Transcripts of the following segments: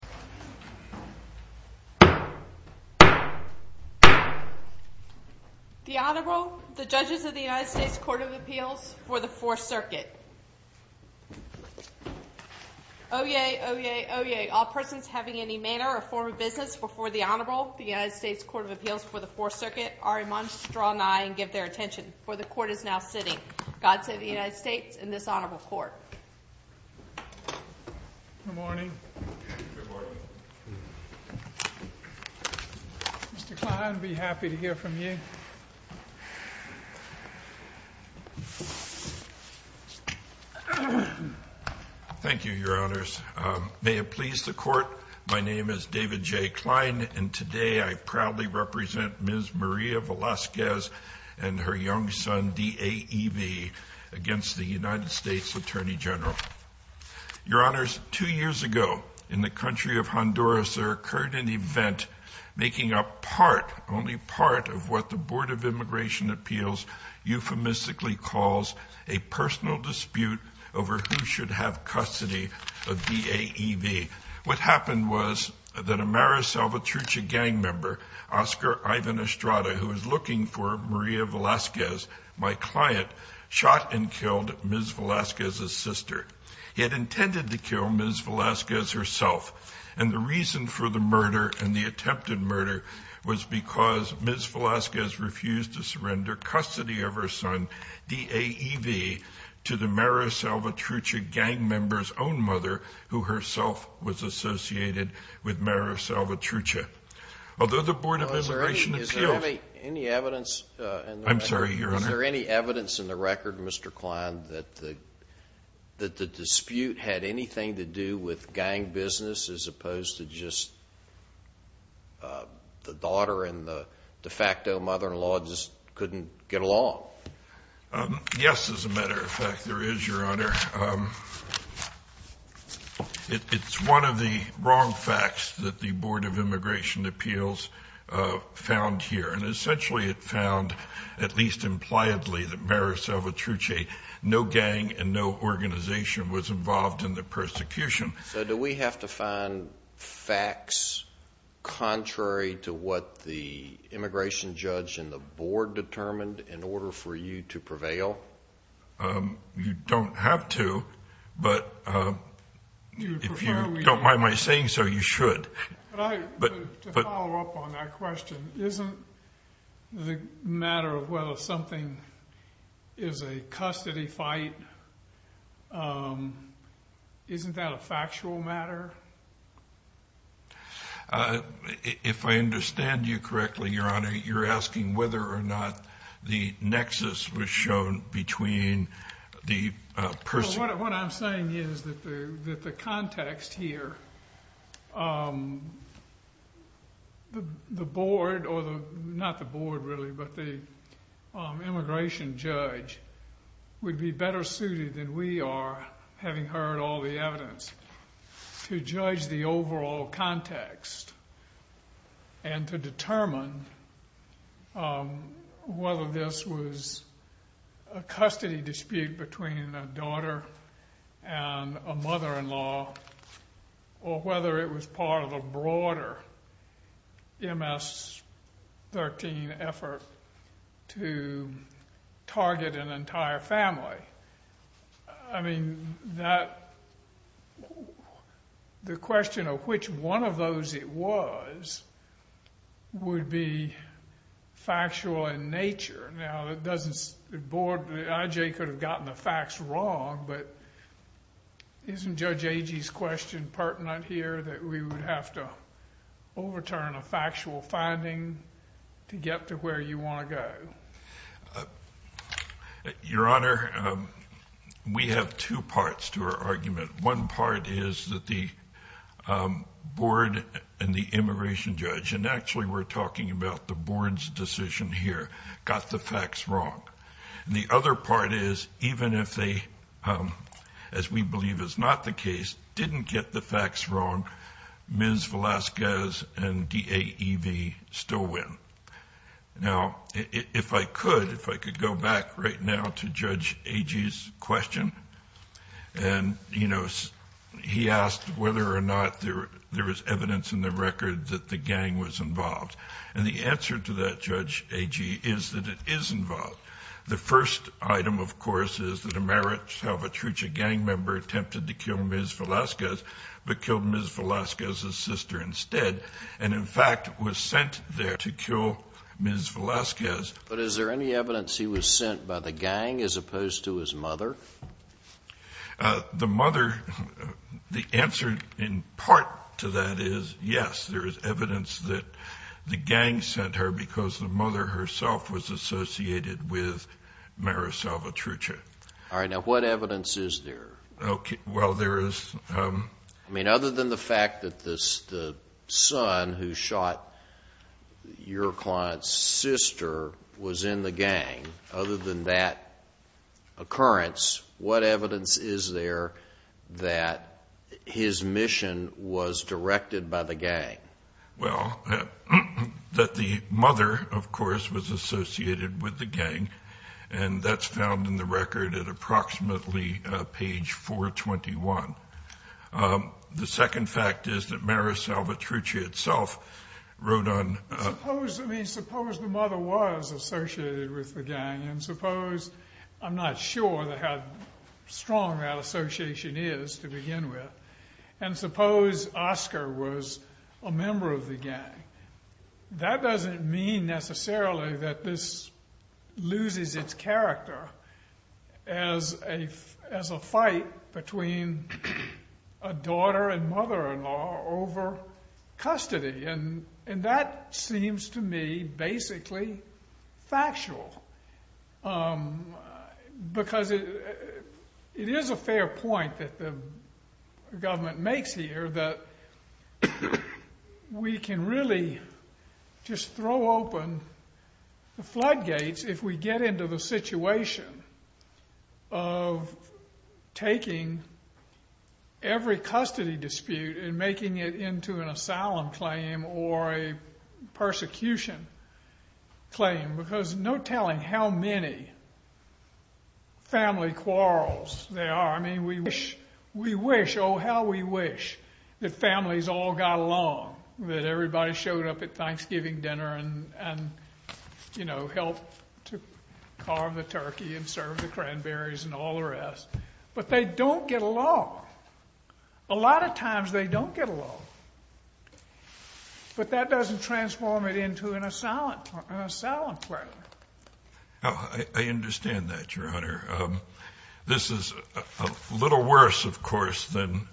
The Honorable, the Judges of the United States Court of Appeals for the Fourth Circuit. Oyez, oyez, oyez, all persons having any manner or form of business before the Honorable, the United States Court of Appeals for the Fourth Circuit, are admonished to draw nigh and give their attention, for the Court is now sitting. God save the United States and this Honorable Court. Good morning. Good morning. Mr. Kline, be happy to hear from you. Thank you, Your Honors. May it please the Court, my name is David J. Kline, and today I proudly represent Ms. Maria Velasquez and her young son, DAEV, against the United States Attorney General. Your Honors, two years ago, in the country of Honduras, there occurred an event making up part, only part, of what the Board of Immigration Appeals euphemistically calls a personal dispute over who should have custody of DAEV. What happened was that a Mara Salvatrucha gang member, Oscar Ivan Estrada, who was looking for Maria Velasquez, my client, shot and killed Ms. Velasquez's sister. He had intended to kill Ms. Velasquez herself, and the reason for the murder and the attempted murder was because Ms. Velasquez refused to surrender custody of her son, DAEV, to the Mara Salvatrucha gang member's own mother, who herself was associated with Mara Salvatrucha. Although the Board of Immigration Appeals… Is there any evidence… I'm sorry, Your Honor. Is there any evidence in the record, Mr. Kline, that the dispute had anything to do with gang business as opposed to just the daughter and the de facto mother-in-law just couldn't get along? Yes, as a matter of fact, there is, Your Honor. It's one of the wrong facts that the Board of Immigration Appeals found here, and essentially it found, at least impliedly, that Mara Salvatrucha, no gang and no organization, was involved in the persecution. So do we have to find facts contrary to what the immigration judge and the board determined in order for you to prevail? You don't have to, but if you don't mind my saying so, you should. To follow up on that question, isn't the matter of whether something is a custody fight, isn't that a factual matter? If I understand you correctly, Your Honor, you're asking whether or not the nexus was shown between the… What I'm saying is that the context here, the board, or not the board really, but the immigration judge, would be better suited than we are, having heard all the evidence, to judge the overall context and to determine whether this was a custody dispute between a daughter and a mother-in-law or whether it was part of a broader MS-13 effort to target an entire family. I mean, the question of which one of those it was would be factual in nature. Now, the board could have gotten the facts wrong, but isn't Judge Agee's question pertinent here that we would have to overturn a factual finding to get to where you want to go? Your Honor, we have two parts to our argument. One part is that the board and the immigration judge, and actually we're talking about the board's decision here, got the facts wrong. The other part is, even if they, as we believe is not the case, didn't get the facts wrong, Ms. Velasquez and DAEV still win. Now, if I could, if I could go back right now to Judge Agee's question, and, you know, he asked whether or not there was evidence in the record that the gang was involved. And the answer to that, Judge Agee, is that it is involved. The first item, of course, is that a Marichal Vitrucci gang member attempted to kill Ms. Velasquez, but killed Ms. Velasquez's sister instead, and, in fact, was sent there to kill Ms. Velasquez. But is there any evidence he was sent by the gang as opposed to his mother? The mother, the answer in part to that is, yes, there is evidence that the gang sent her because the mother herself was associated with Marichal Vitrucci. All right. Now, what evidence is there? Okay. Well, there is. I mean, other than the fact that the son who shot your client's sister was in the gang, other than that occurrence, what evidence is there that his mission was directed by the gang? Well, that the mother, of course, was associated with the gang, and that's found in the record at approximately page 421. The second fact is that Marichal Vitrucci itself wrote on— Suppose—I mean, suppose the mother was associated with the gang, and suppose—I'm not sure how strong that association is to begin with. And suppose Oscar was a member of the gang. That doesn't mean necessarily that this loses its character as a fight between a daughter and mother-in-law over custody, and that seems to me basically factual. Because it is a fair point that the government makes here that we can really just throw open the floodgates if we get into the situation of taking every custody dispute and making it into an asylum claim or a persecution claim. Because no telling how many family quarrels there are. I mean, we wish, oh, how we wish that families all got along, that everybody showed up at Thanksgiving dinner and, you know, helped to carve the turkey and serve the cranberries and all the rest. But they don't get along. A lot of times they don't get along. But that doesn't transform it into an asylum claim. I understand that, Your Honor. This is a little worse, of course, than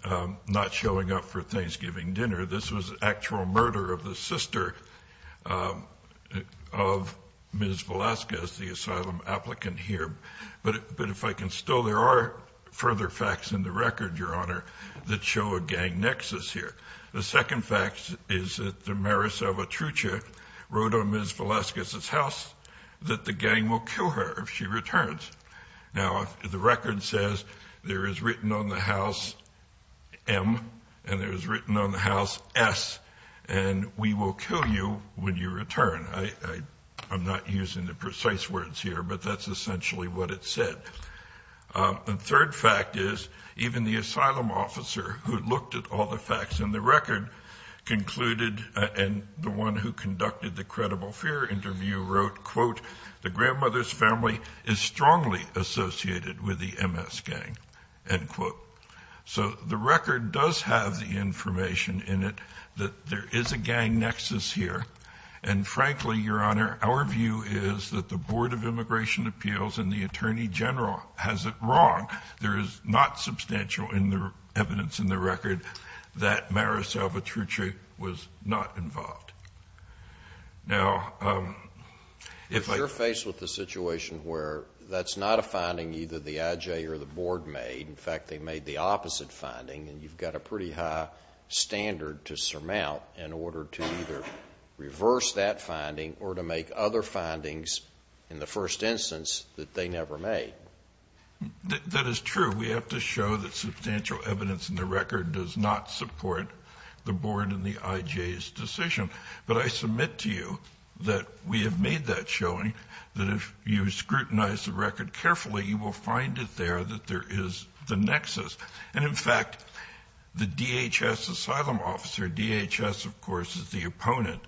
not showing up for Thanksgiving dinner. This was actual murder of the sister of Ms. Velazquez, the asylum applicant here. But if I can still, there are further facts in the record, Your Honor, that show a gang nexus here. The second fact is that the Maris of Atrucha wrote on Ms. Velazquez's house that the gang will kill her if she returns. Now, the record says there is written on the house M and there is written on the house S, and we will kill you when you return. I'm not using the precise words here, but that's essentially what it said. The third fact is even the asylum officer who looked at all the facts in the record concluded, and the one who conducted the credible fear interview wrote, quote, the grandmother's family is strongly associated with the MS gang, end quote. So the record does have the information in it that there is a gang nexus here. And, frankly, Your Honor, our view is that the Board of Immigration Appeals and the Attorney General has it wrong. There is not substantial evidence in the record that Maris of Atrucha was not involved. Now, if I can. You're faced with a situation where that's not a finding either the IJ or the Board made. In fact, they made the opposite finding, and you've got a pretty high standard to surmount in order to either reverse that finding or to make other findings in the first instance that they never made. That is true. We have to show that substantial evidence in the record does not support the Board and the IJ's decision. But I submit to you that we have made that showing, that if you scrutinize the record carefully, you will find it there that there is the nexus. And, in fact, the DHS asylum officer, DHS, of course, is the opponent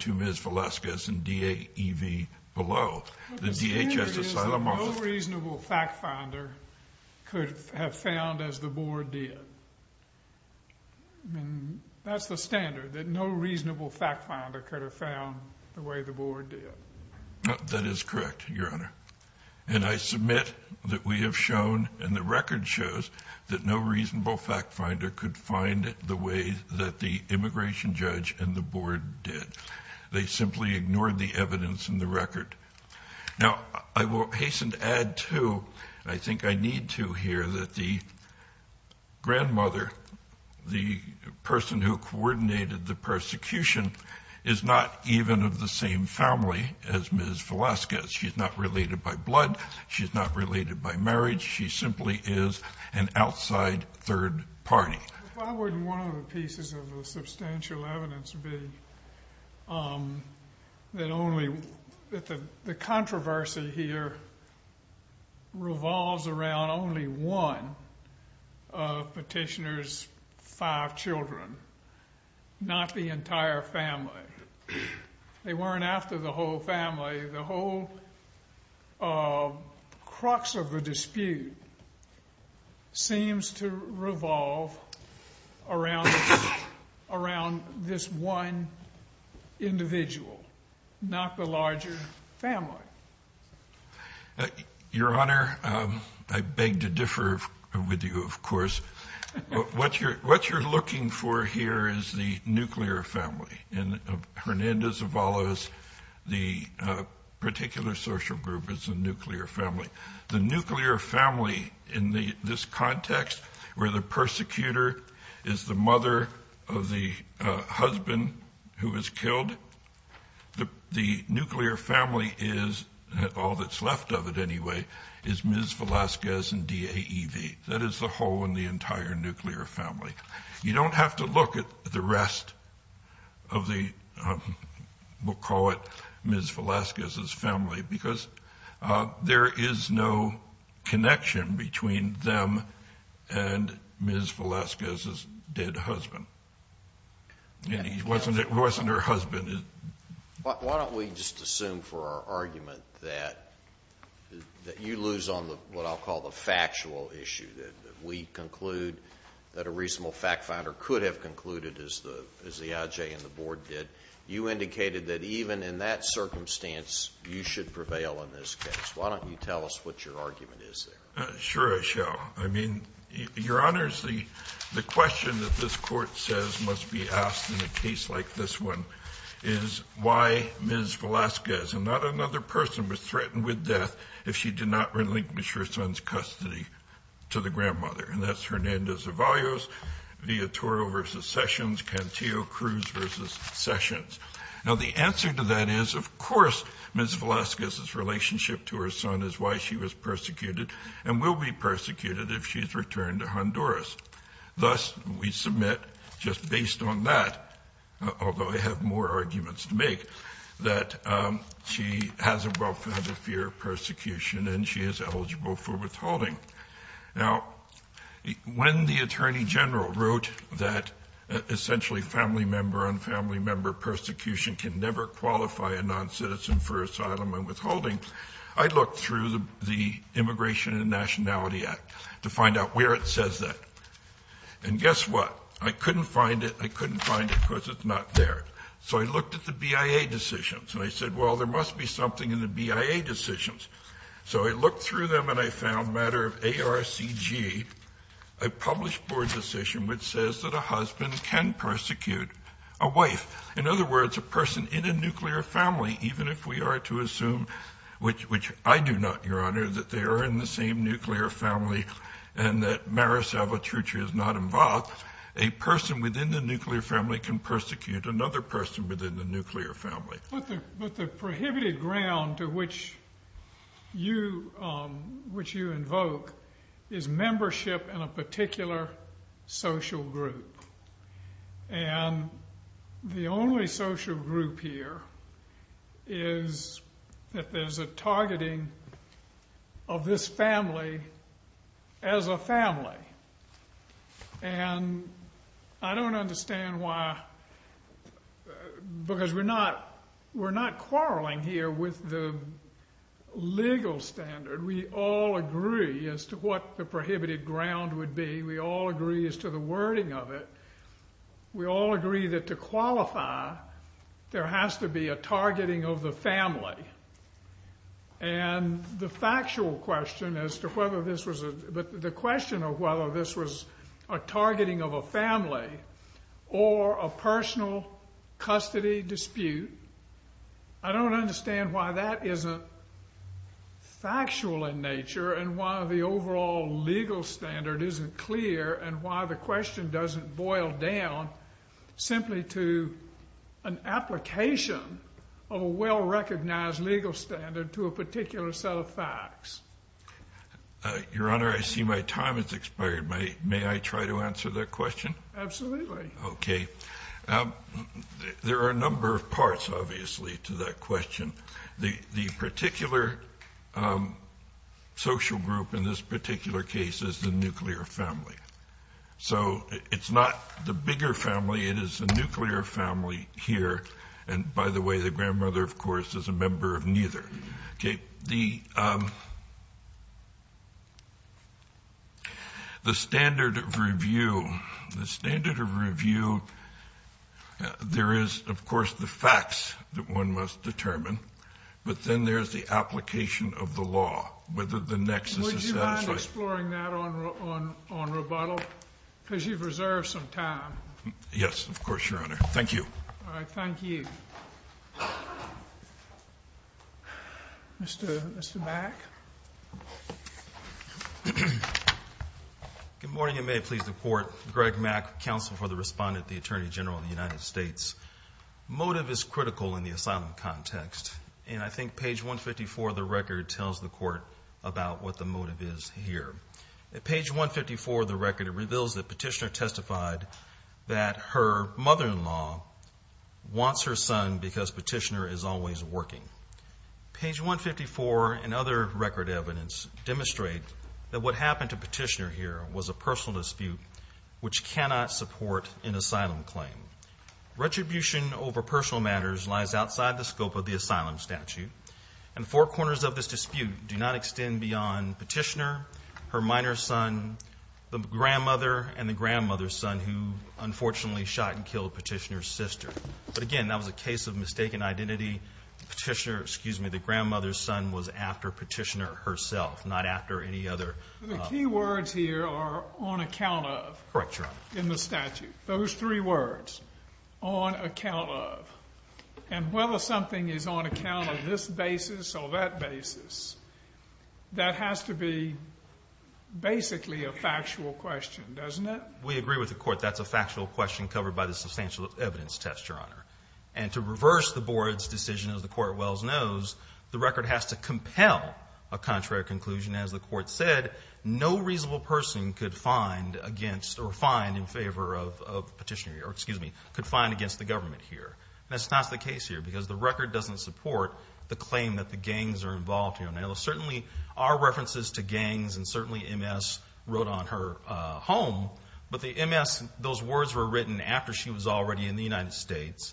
to Ms. Velasquez and DAEV below. The DHS asylum officer. But the standard is that no reasonable fact finder could have found as the Board did. I mean, that's the standard, that no reasonable fact finder could have found the way the Board did. That is correct, Your Honor. And I submit that we have shown, and the record shows, that no reasonable fact finder could find it the way that the immigration judge and the Board did. They simply ignored the evidence in the record. Now, I will hasten to add, too, and I think I need to here, that the grandmother, the person who coordinated the persecution, is not even of the same family as Ms. Velasquez. She's not related by blood. She's not related by marriage. She simply is an outside third party. Why wouldn't one of the pieces of the substantial evidence be that the controversy here revolves around only one of Petitioner's five children, not the entire family? They weren't after the whole family. The whole crux of the dispute seems to revolve around this one individual, not the larger family. Your Honor, I beg to differ with you, of course. What you're looking for here is the nuclear family. And Hernandez-Avalos, the particular social group, is the nuclear family. The nuclear family in this context where the persecutor is the mother of the husband who was killed, the nuclear family is, all that's left of it anyway, is Ms. Velasquez and DAEV. That is the whole and the entire nuclear family. You don't have to look at the rest of the, we'll call it Ms. Velasquez's family, because there is no connection between them and Ms. Velasquez's dead husband. It wasn't her husband. Why don't we just assume for our argument that you lose on what I'll call the factual issue, that we conclude that a reasonable fact finder could have concluded, as the IJ and the Board did, you indicated that even in that circumstance, you should prevail in this case. Why don't you tell us what your argument is there? Sure, I shall. I mean, Your Honors, the question that this Court says must be asked in a case like this one is why Ms. Velasquez and not another person was threatened with death if she did not relinquish her son's custody to the grandmother. And that's Hernandez-Avalos, Viatoro versus Sessions, Cantillo-Cruz versus Sessions. Now, the answer to that is, of course, Ms. Velasquez's relationship to her son is why she was persecuted and will be persecuted if she is returned to Honduras. Thus, we submit, just based on that, although I have more arguments to make, that she has a well-founded fear of persecution and she is eligible for withholding. Now, when the Attorney General wrote that essentially family member-on-family member persecution can never qualify a noncitizen for asylum and withholding, I looked through the Immigration and Nationality Act to find out where it says that. And guess what? I couldn't find it. I couldn't find it because it's not there. So I looked at the BIA decisions, and I said, well, there must be something in the BIA decisions. So I looked through them, and I found a matter of ARCG, a published board decision, which says that a husband can persecute a wife. In other words, a person in a nuclear family, even if we are to assume, which I do not, Your Honor, that they are in the same nuclear family and that Maris Avatrucha is not involved, a person within the nuclear family can persecute another person within the nuclear family. But the prohibited ground to which you invoke is membership in a particular social group. And the only social group here is that there's a targeting of this family as a family. And I don't understand why, because we're not quarreling here with the legal standard. We all agree as to what the prohibited ground would be. We all agree as to the wording of it. We all agree that to qualify, there has to be a targeting of the family. And the factual question as to whether this was a – but the question of whether this was a targeting of a family or a personal custody dispute, I don't understand why that isn't factual in nature and why the overall legal standard isn't clear and why the question doesn't boil down simply to an application of a well-recognized, legal standard to a particular set of facts. Your Honor, I see my time has expired. May I try to answer that question? Absolutely. Okay. There are a number of parts, obviously, to that question. The particular social group in this particular case is the nuclear family. So it's not the bigger family. It is the nuclear family here. And, by the way, the grandmother, of course, is a member of neither. Okay. The standard of review, the standard of review, there is, of course, the facts that one must determine. But then there's the application of the law, whether the nexus is satisfied. Would you mind exploring that on rebuttal? Because you've reserved some time. Yes, of course, Your Honor. Thank you. All right. Thank you. Mr. Mack. Good morning, and may it please the Court. Greg Mack, counsel for the respondent at the Attorney General of the United States. Motive is critical in the asylum context, and I think page 154 of the record tells the Court about what the motive is here. At page 154 of the record, it reveals that Petitioner testified that her mother-in-law wants her son because Petitioner is always working. Page 154 and other record evidence demonstrate that what happened to Petitioner here was a personal dispute which cannot support an asylum claim. Retribution over personal matters lies outside the scope of the asylum statute, and four corners of this dispute do not extend beyond Petitioner, her minor son, the grandmother, and the grandmother's son who unfortunately shot and killed Petitioner's sister. But again, that was a case of mistaken identity. Petitioner, excuse me, the grandmother's son was after Petitioner herself, not after any other. The key words here are on account of. Correct, Your Honor. In the statute. Those three words, on account of. And whether something is on account of this basis or that basis, that has to be basically a factual question, doesn't it? We agree with the Court. That's a factual question covered by the substantial evidence test, Your Honor. And to reverse the Board's decision, as the Court well knows, the record has to compel a contrary conclusion. As the Court said, no reasonable person could find against or find in favor of Petitioner, or excuse me, could find against the government here. That's not the case here because the record doesn't support the claim that the gangs are involved here. Now, there certainly are references to gangs, and certainly MS wrote on her home, but the MS, those words were written after she was already in the United States.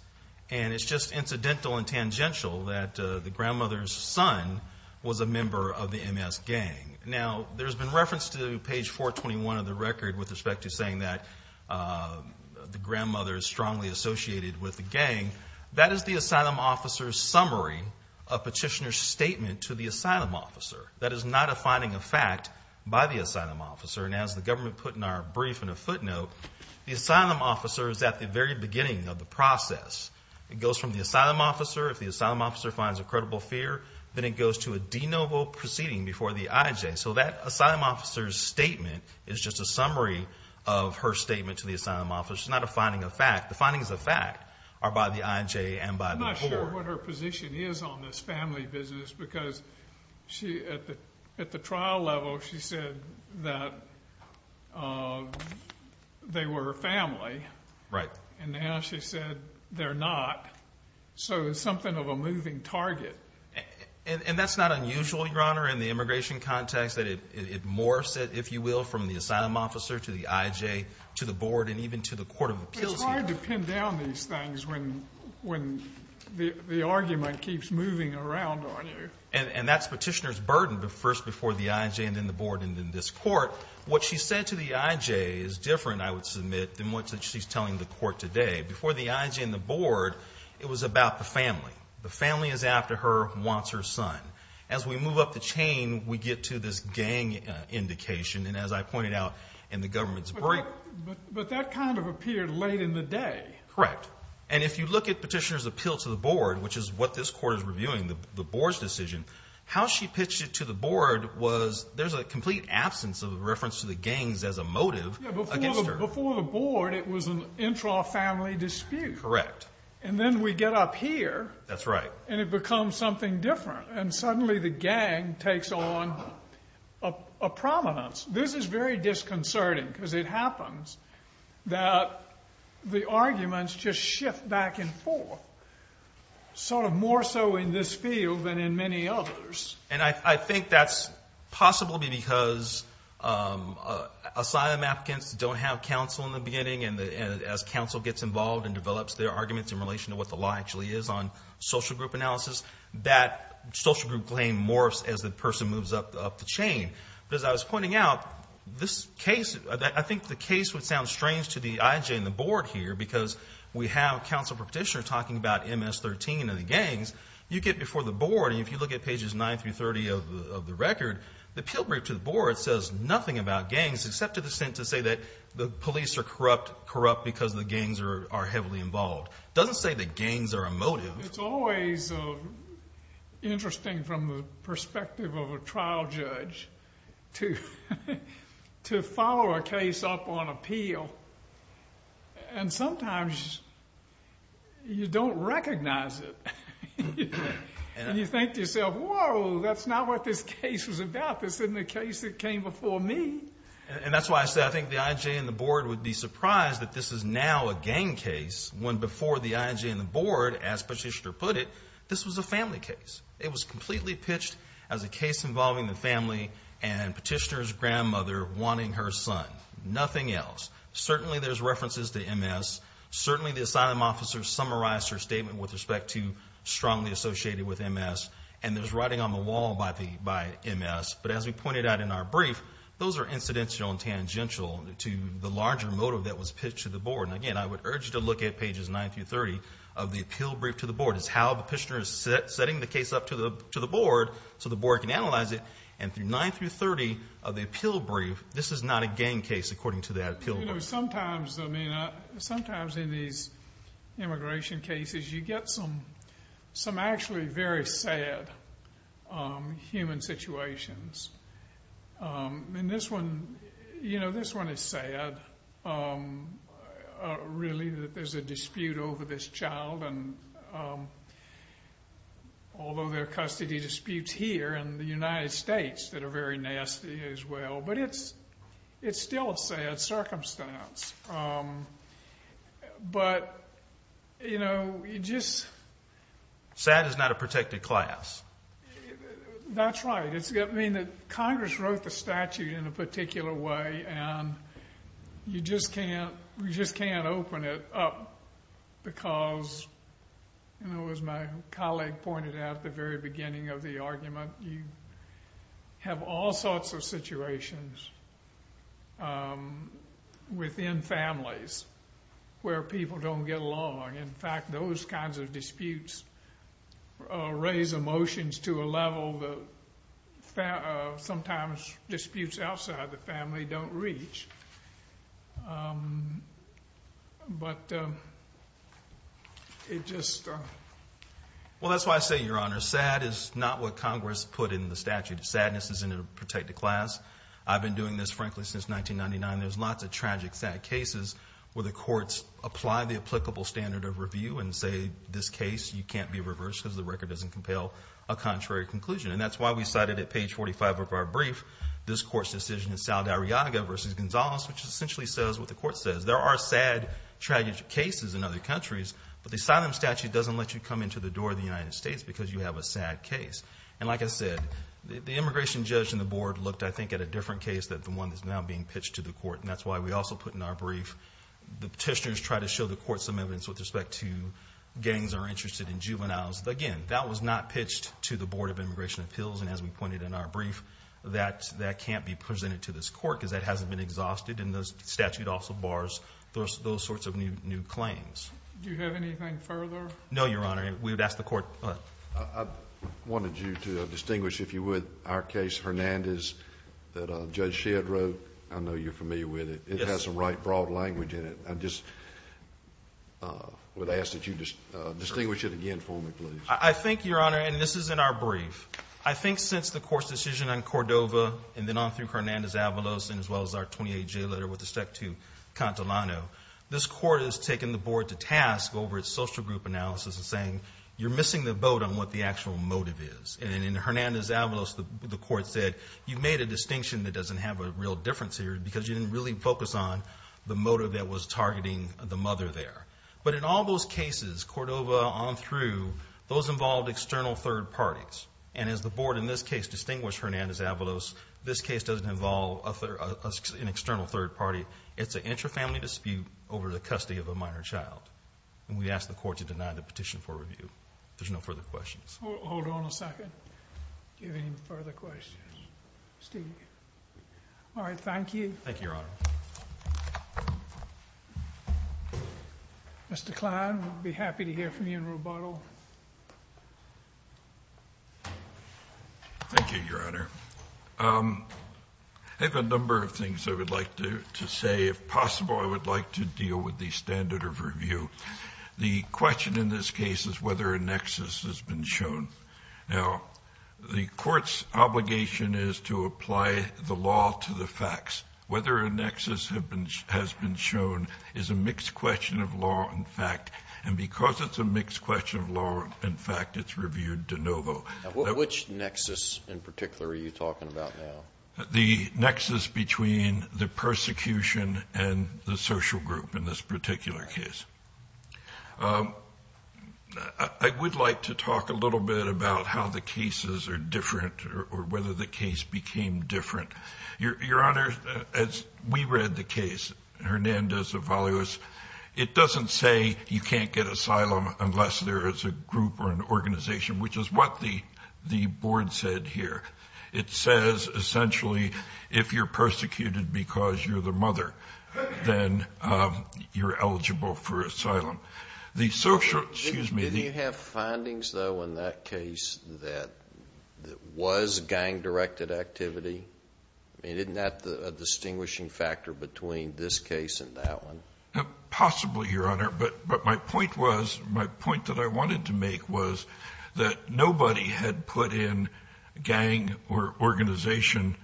And it's just incidental and tangential that the grandmother's son was a member of the MS gang. Now, there's been reference to page 421 of the record with respect to saying that the grandmother is strongly associated with the gang. That is the asylum officer's summary of Petitioner's statement to the asylum officer. That is not a finding of fact by the asylum officer. And as the government put in our brief in a footnote, the asylum officer is at the very beginning of the process. It goes from the asylum officer. If the asylum officer finds a credible fear, then it goes to a de novo proceeding before the IJ. So that asylum officer's statement is just a summary of her statement to the asylum officer. It's not a finding of fact. The findings of fact are by the IJ and by the court. I'm not sure what her position is on this family business because at the trial level she said that they were her family. Right. And now she said they're not. So it's something of a moving target. And that's not unusual, Your Honor, in the immigration context. It morphs, if you will, from the asylum officer to the IJ to the board and even to the court of appeals here. It's hard to pin down these things when the argument keeps moving around on you. And that's Petitioner's burden first before the IJ and then the board and then this court. What she said to the IJ is different, I would submit, than what she's telling the court today. Before the IJ and the board, it was about the family. The family is after her, wants her son. As we move up the chain, we get to this gang indication, and as I pointed out in the government's brief. But that kind of appeared late in the day. Correct. And if you look at Petitioner's appeal to the board, which is what this court is reviewing, the board's decision, how she pitched it to the board was there's a complete absence of reference to the gangs as a motive against her. Before the board, it was an intra-family dispute. Correct. And then we get up here. That's right. And it becomes something different. And suddenly the gang takes on a prominence. This is very disconcerting because it happens that the arguments just shift back and forth, sort of more so in this field than in many others. And I think that's possible to be because asylum applicants don't have counsel in the beginning, and as counsel gets involved and develops their arguments in relation to what the law actually is on social group analysis, that social group claim morphs as the person moves up the chain. But as I was pointing out, this case, I think the case would sound strange to the IJ and the board here because we have counsel for Petitioner talking about MS-13 and the gangs. You get before the board, and if you look at pages 9 through 30 of the record, the appeal brief to the board says nothing about gangs except to the extent to say that the police are corrupt because the gangs are heavily involved. It doesn't say that gangs are a motive. It's always interesting from the perspective of a trial judge to follow a case up on appeal. And sometimes you don't recognize it, and you think to yourself, whoa, that's not what this case was about. This isn't a case that came before me. And that's why I say I think the IJ and the board would be surprised that this is now a gang case when before the IJ and the board, as Petitioner put it, this was a family case. It was completely pitched as a case involving the family and Petitioner's grandmother wanting her son, nothing else. Certainly there's references to MS. Certainly the asylum officer summarized her statement with respect to strongly associated with MS. And there's writing on the wall by MS. But as we pointed out in our brief, those are incidental and tangential to the larger motive that was pitched to the board. And, again, I would urge you to look at pages 9 through 30 of the appeal brief to the board. It's how Petitioner is setting the case up to the board so the board can analyze it. And through 9 through 30 of the appeal brief, this is not a gang case according to that appeal brief. You know, sometimes, I mean, sometimes in these immigration cases you get some actually very sad human situations. And this one, you know, this one is sad, really, that there's a dispute over this child. And although there are custody disputes here in the United States that are very nasty as well. But it's still a sad circumstance. But, you know, you just. Sad is not a protected class. That's right. I mean, Congress wrote the statute in a particular way. And you just can't open it up because, you know, as my colleague pointed out at the very beginning of the argument, you have all sorts of situations within families where people don't get along. In fact, those kinds of disputes raise emotions to a level that sometimes disputes outside the family don't reach. But it just. Well, that's why I say, Your Honor, sad is not what Congress put in the statute. Sadness is in a protected class. I've been doing this, frankly, since 1999. There's lots of tragic, sad cases where the courts apply the applicable standard of review and say, this case, you can't be reversed because the record doesn't compel a contrary conclusion. And that's why we cited at page 45 of our brief, this court's decision in Saldarriaga v. Gonzales, which essentially says what the court says. There are sad, tragic cases in other countries, but the asylum statute doesn't let you come into the door of the United States because you have a sad case. And like I said, the immigration judge in the board looked, I think, at a different case than the one that's now being pitched to the court. And that's why we also put in our brief, the petitioners try to show the court some evidence with respect to gangs are interested in juveniles. Again, that was not pitched to the Board of Immigration Appeals. And as we pointed in our brief, that can't be presented to this court because that hasn't been exhausted. And the statute also bars those sorts of new claims. Do you have anything further? No, Your Honor. We would ask the court what? I wanted you to distinguish, if you would, our case, Hernandez, that Judge Shedd wrote. I know you're familiar with it. Yes. It has some right broad language in it. I just would ask that you distinguish it again for me, please. I think, Your Honor, and this is in our brief, I think since the court's decision on Cordova and then on through Hernandez-Avalos and as well as our 28-J letter with respect to Cantillano, this court has taken the board to task over its social group analysis and saying you're missing the boat on what the actual motive is. And in Hernandez-Avalos, the court said you've made a distinction that doesn't have a real difference here because you didn't really focus on the motive that was targeting the mother there. But in all those cases, Cordova on through, those involved external third parties. And as the board in this case distinguished Hernandez-Avalos, this case doesn't involve an external third party. It's an intra-family dispute over the custody of a minor child. And we ask the court to deny the petition for review. If there's no further questions. Hold on a second. Do you have any further questions? All right. Thank you. Thank you, Your Honor. Mr. Kline, we'd be happy to hear from you in rebuttal. Thank you, Your Honor. I have a number of things I would like to say. If possible, I would like to deal with the standard of review. The question in this case is whether a nexus has been shown. Now, the court's obligation is to apply the law to the facts. Whether a nexus has been shown is a mixed question of law and fact. And because it's a mixed question of law and fact, it's reviewed de novo. Which nexus in particular are you talking about now? The nexus between the persecution and the social group in this particular case. I would like to talk a little bit about how the cases are different or whether the case became different. Your Honor, as we read the case, Hernandez-Avalos, it doesn't say you can't get asylum unless there is a group or an organization, which is what the board said here. It says, essentially, if you're persecuted because you're the mother, then you're eligible for asylum. Did you have findings, though, in that case that was gang-directed activity? I mean, isn't that a distinguishing factor between this case and that one? Possibly, Your Honor. But my point that I wanted to make was that nobody had put in gang or organization.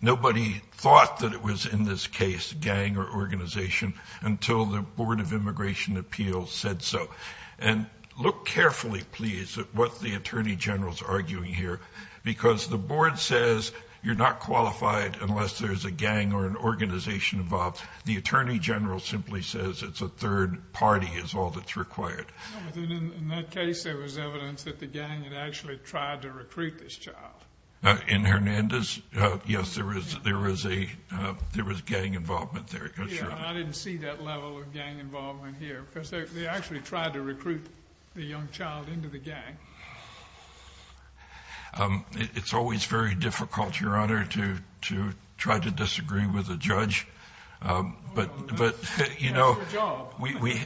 Nobody thought that it was, in this case, gang or organization until the Board of Immigration Appeals said so. And look carefully, please, at what the Attorney General is arguing here. Because the board says you're not qualified unless there's a gang or an organization involved. The Attorney General simply says it's a third party is all that's required. In that case, there was evidence that the gang had actually tried to recruit this child. In Hernandez, yes, there was gang involvement there. I didn't see that level of gang involvement here. Because they actually tried to recruit the young child into the gang. It's always very difficult, Your Honor, to try to disagree with a judge. But, you know,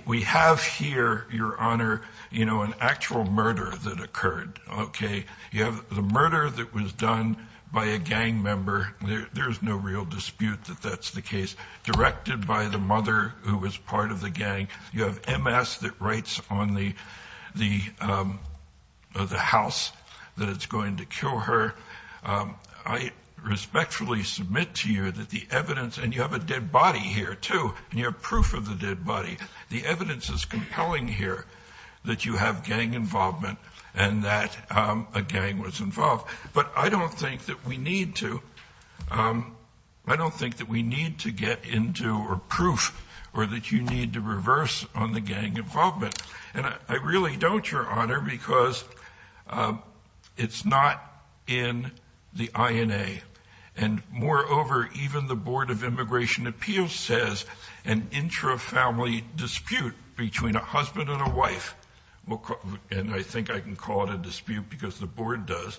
we have here, Your Honor, an actual murder that occurred. The murder that was done by a gang member, there's no real dispute that that's the case. Directed by the mother who was part of the gang. You have MS that writes on the house that it's going to kill her. I respectfully submit to you that the evidence, and you have a dead body here, too. And you have proof of the dead body. The evidence is compelling here that you have gang involvement and that a gang was involved. But I don't think that we need to. I don't think that we need to get into proof or that you need to reverse on the gang involvement. And I really don't, Your Honor, because it's not in the INA. And moreover, even the Board of Immigration Appeals says an intra-family dispute between a husband and a wife, and I think I can call it a dispute because the Board does,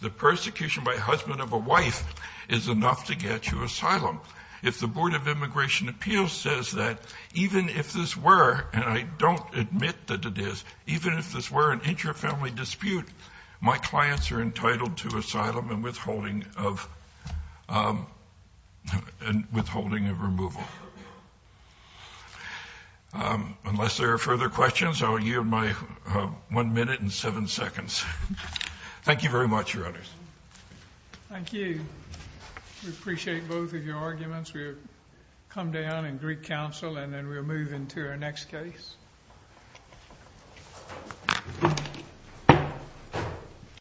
the persecution by a husband of a wife is enough to get you asylum. If the Board of Immigration Appeals says that, even if this were, and I don't admit that it is, even if this were an intra-family dispute, my clients are entitled to asylum and withholding of removal. Unless there are further questions, I will yield my one minute and seven seconds. Thank you very much, Your Honors. Thank you. We appreciate both of your arguments. We'll come down in Greek Council and then we'll move into our next case.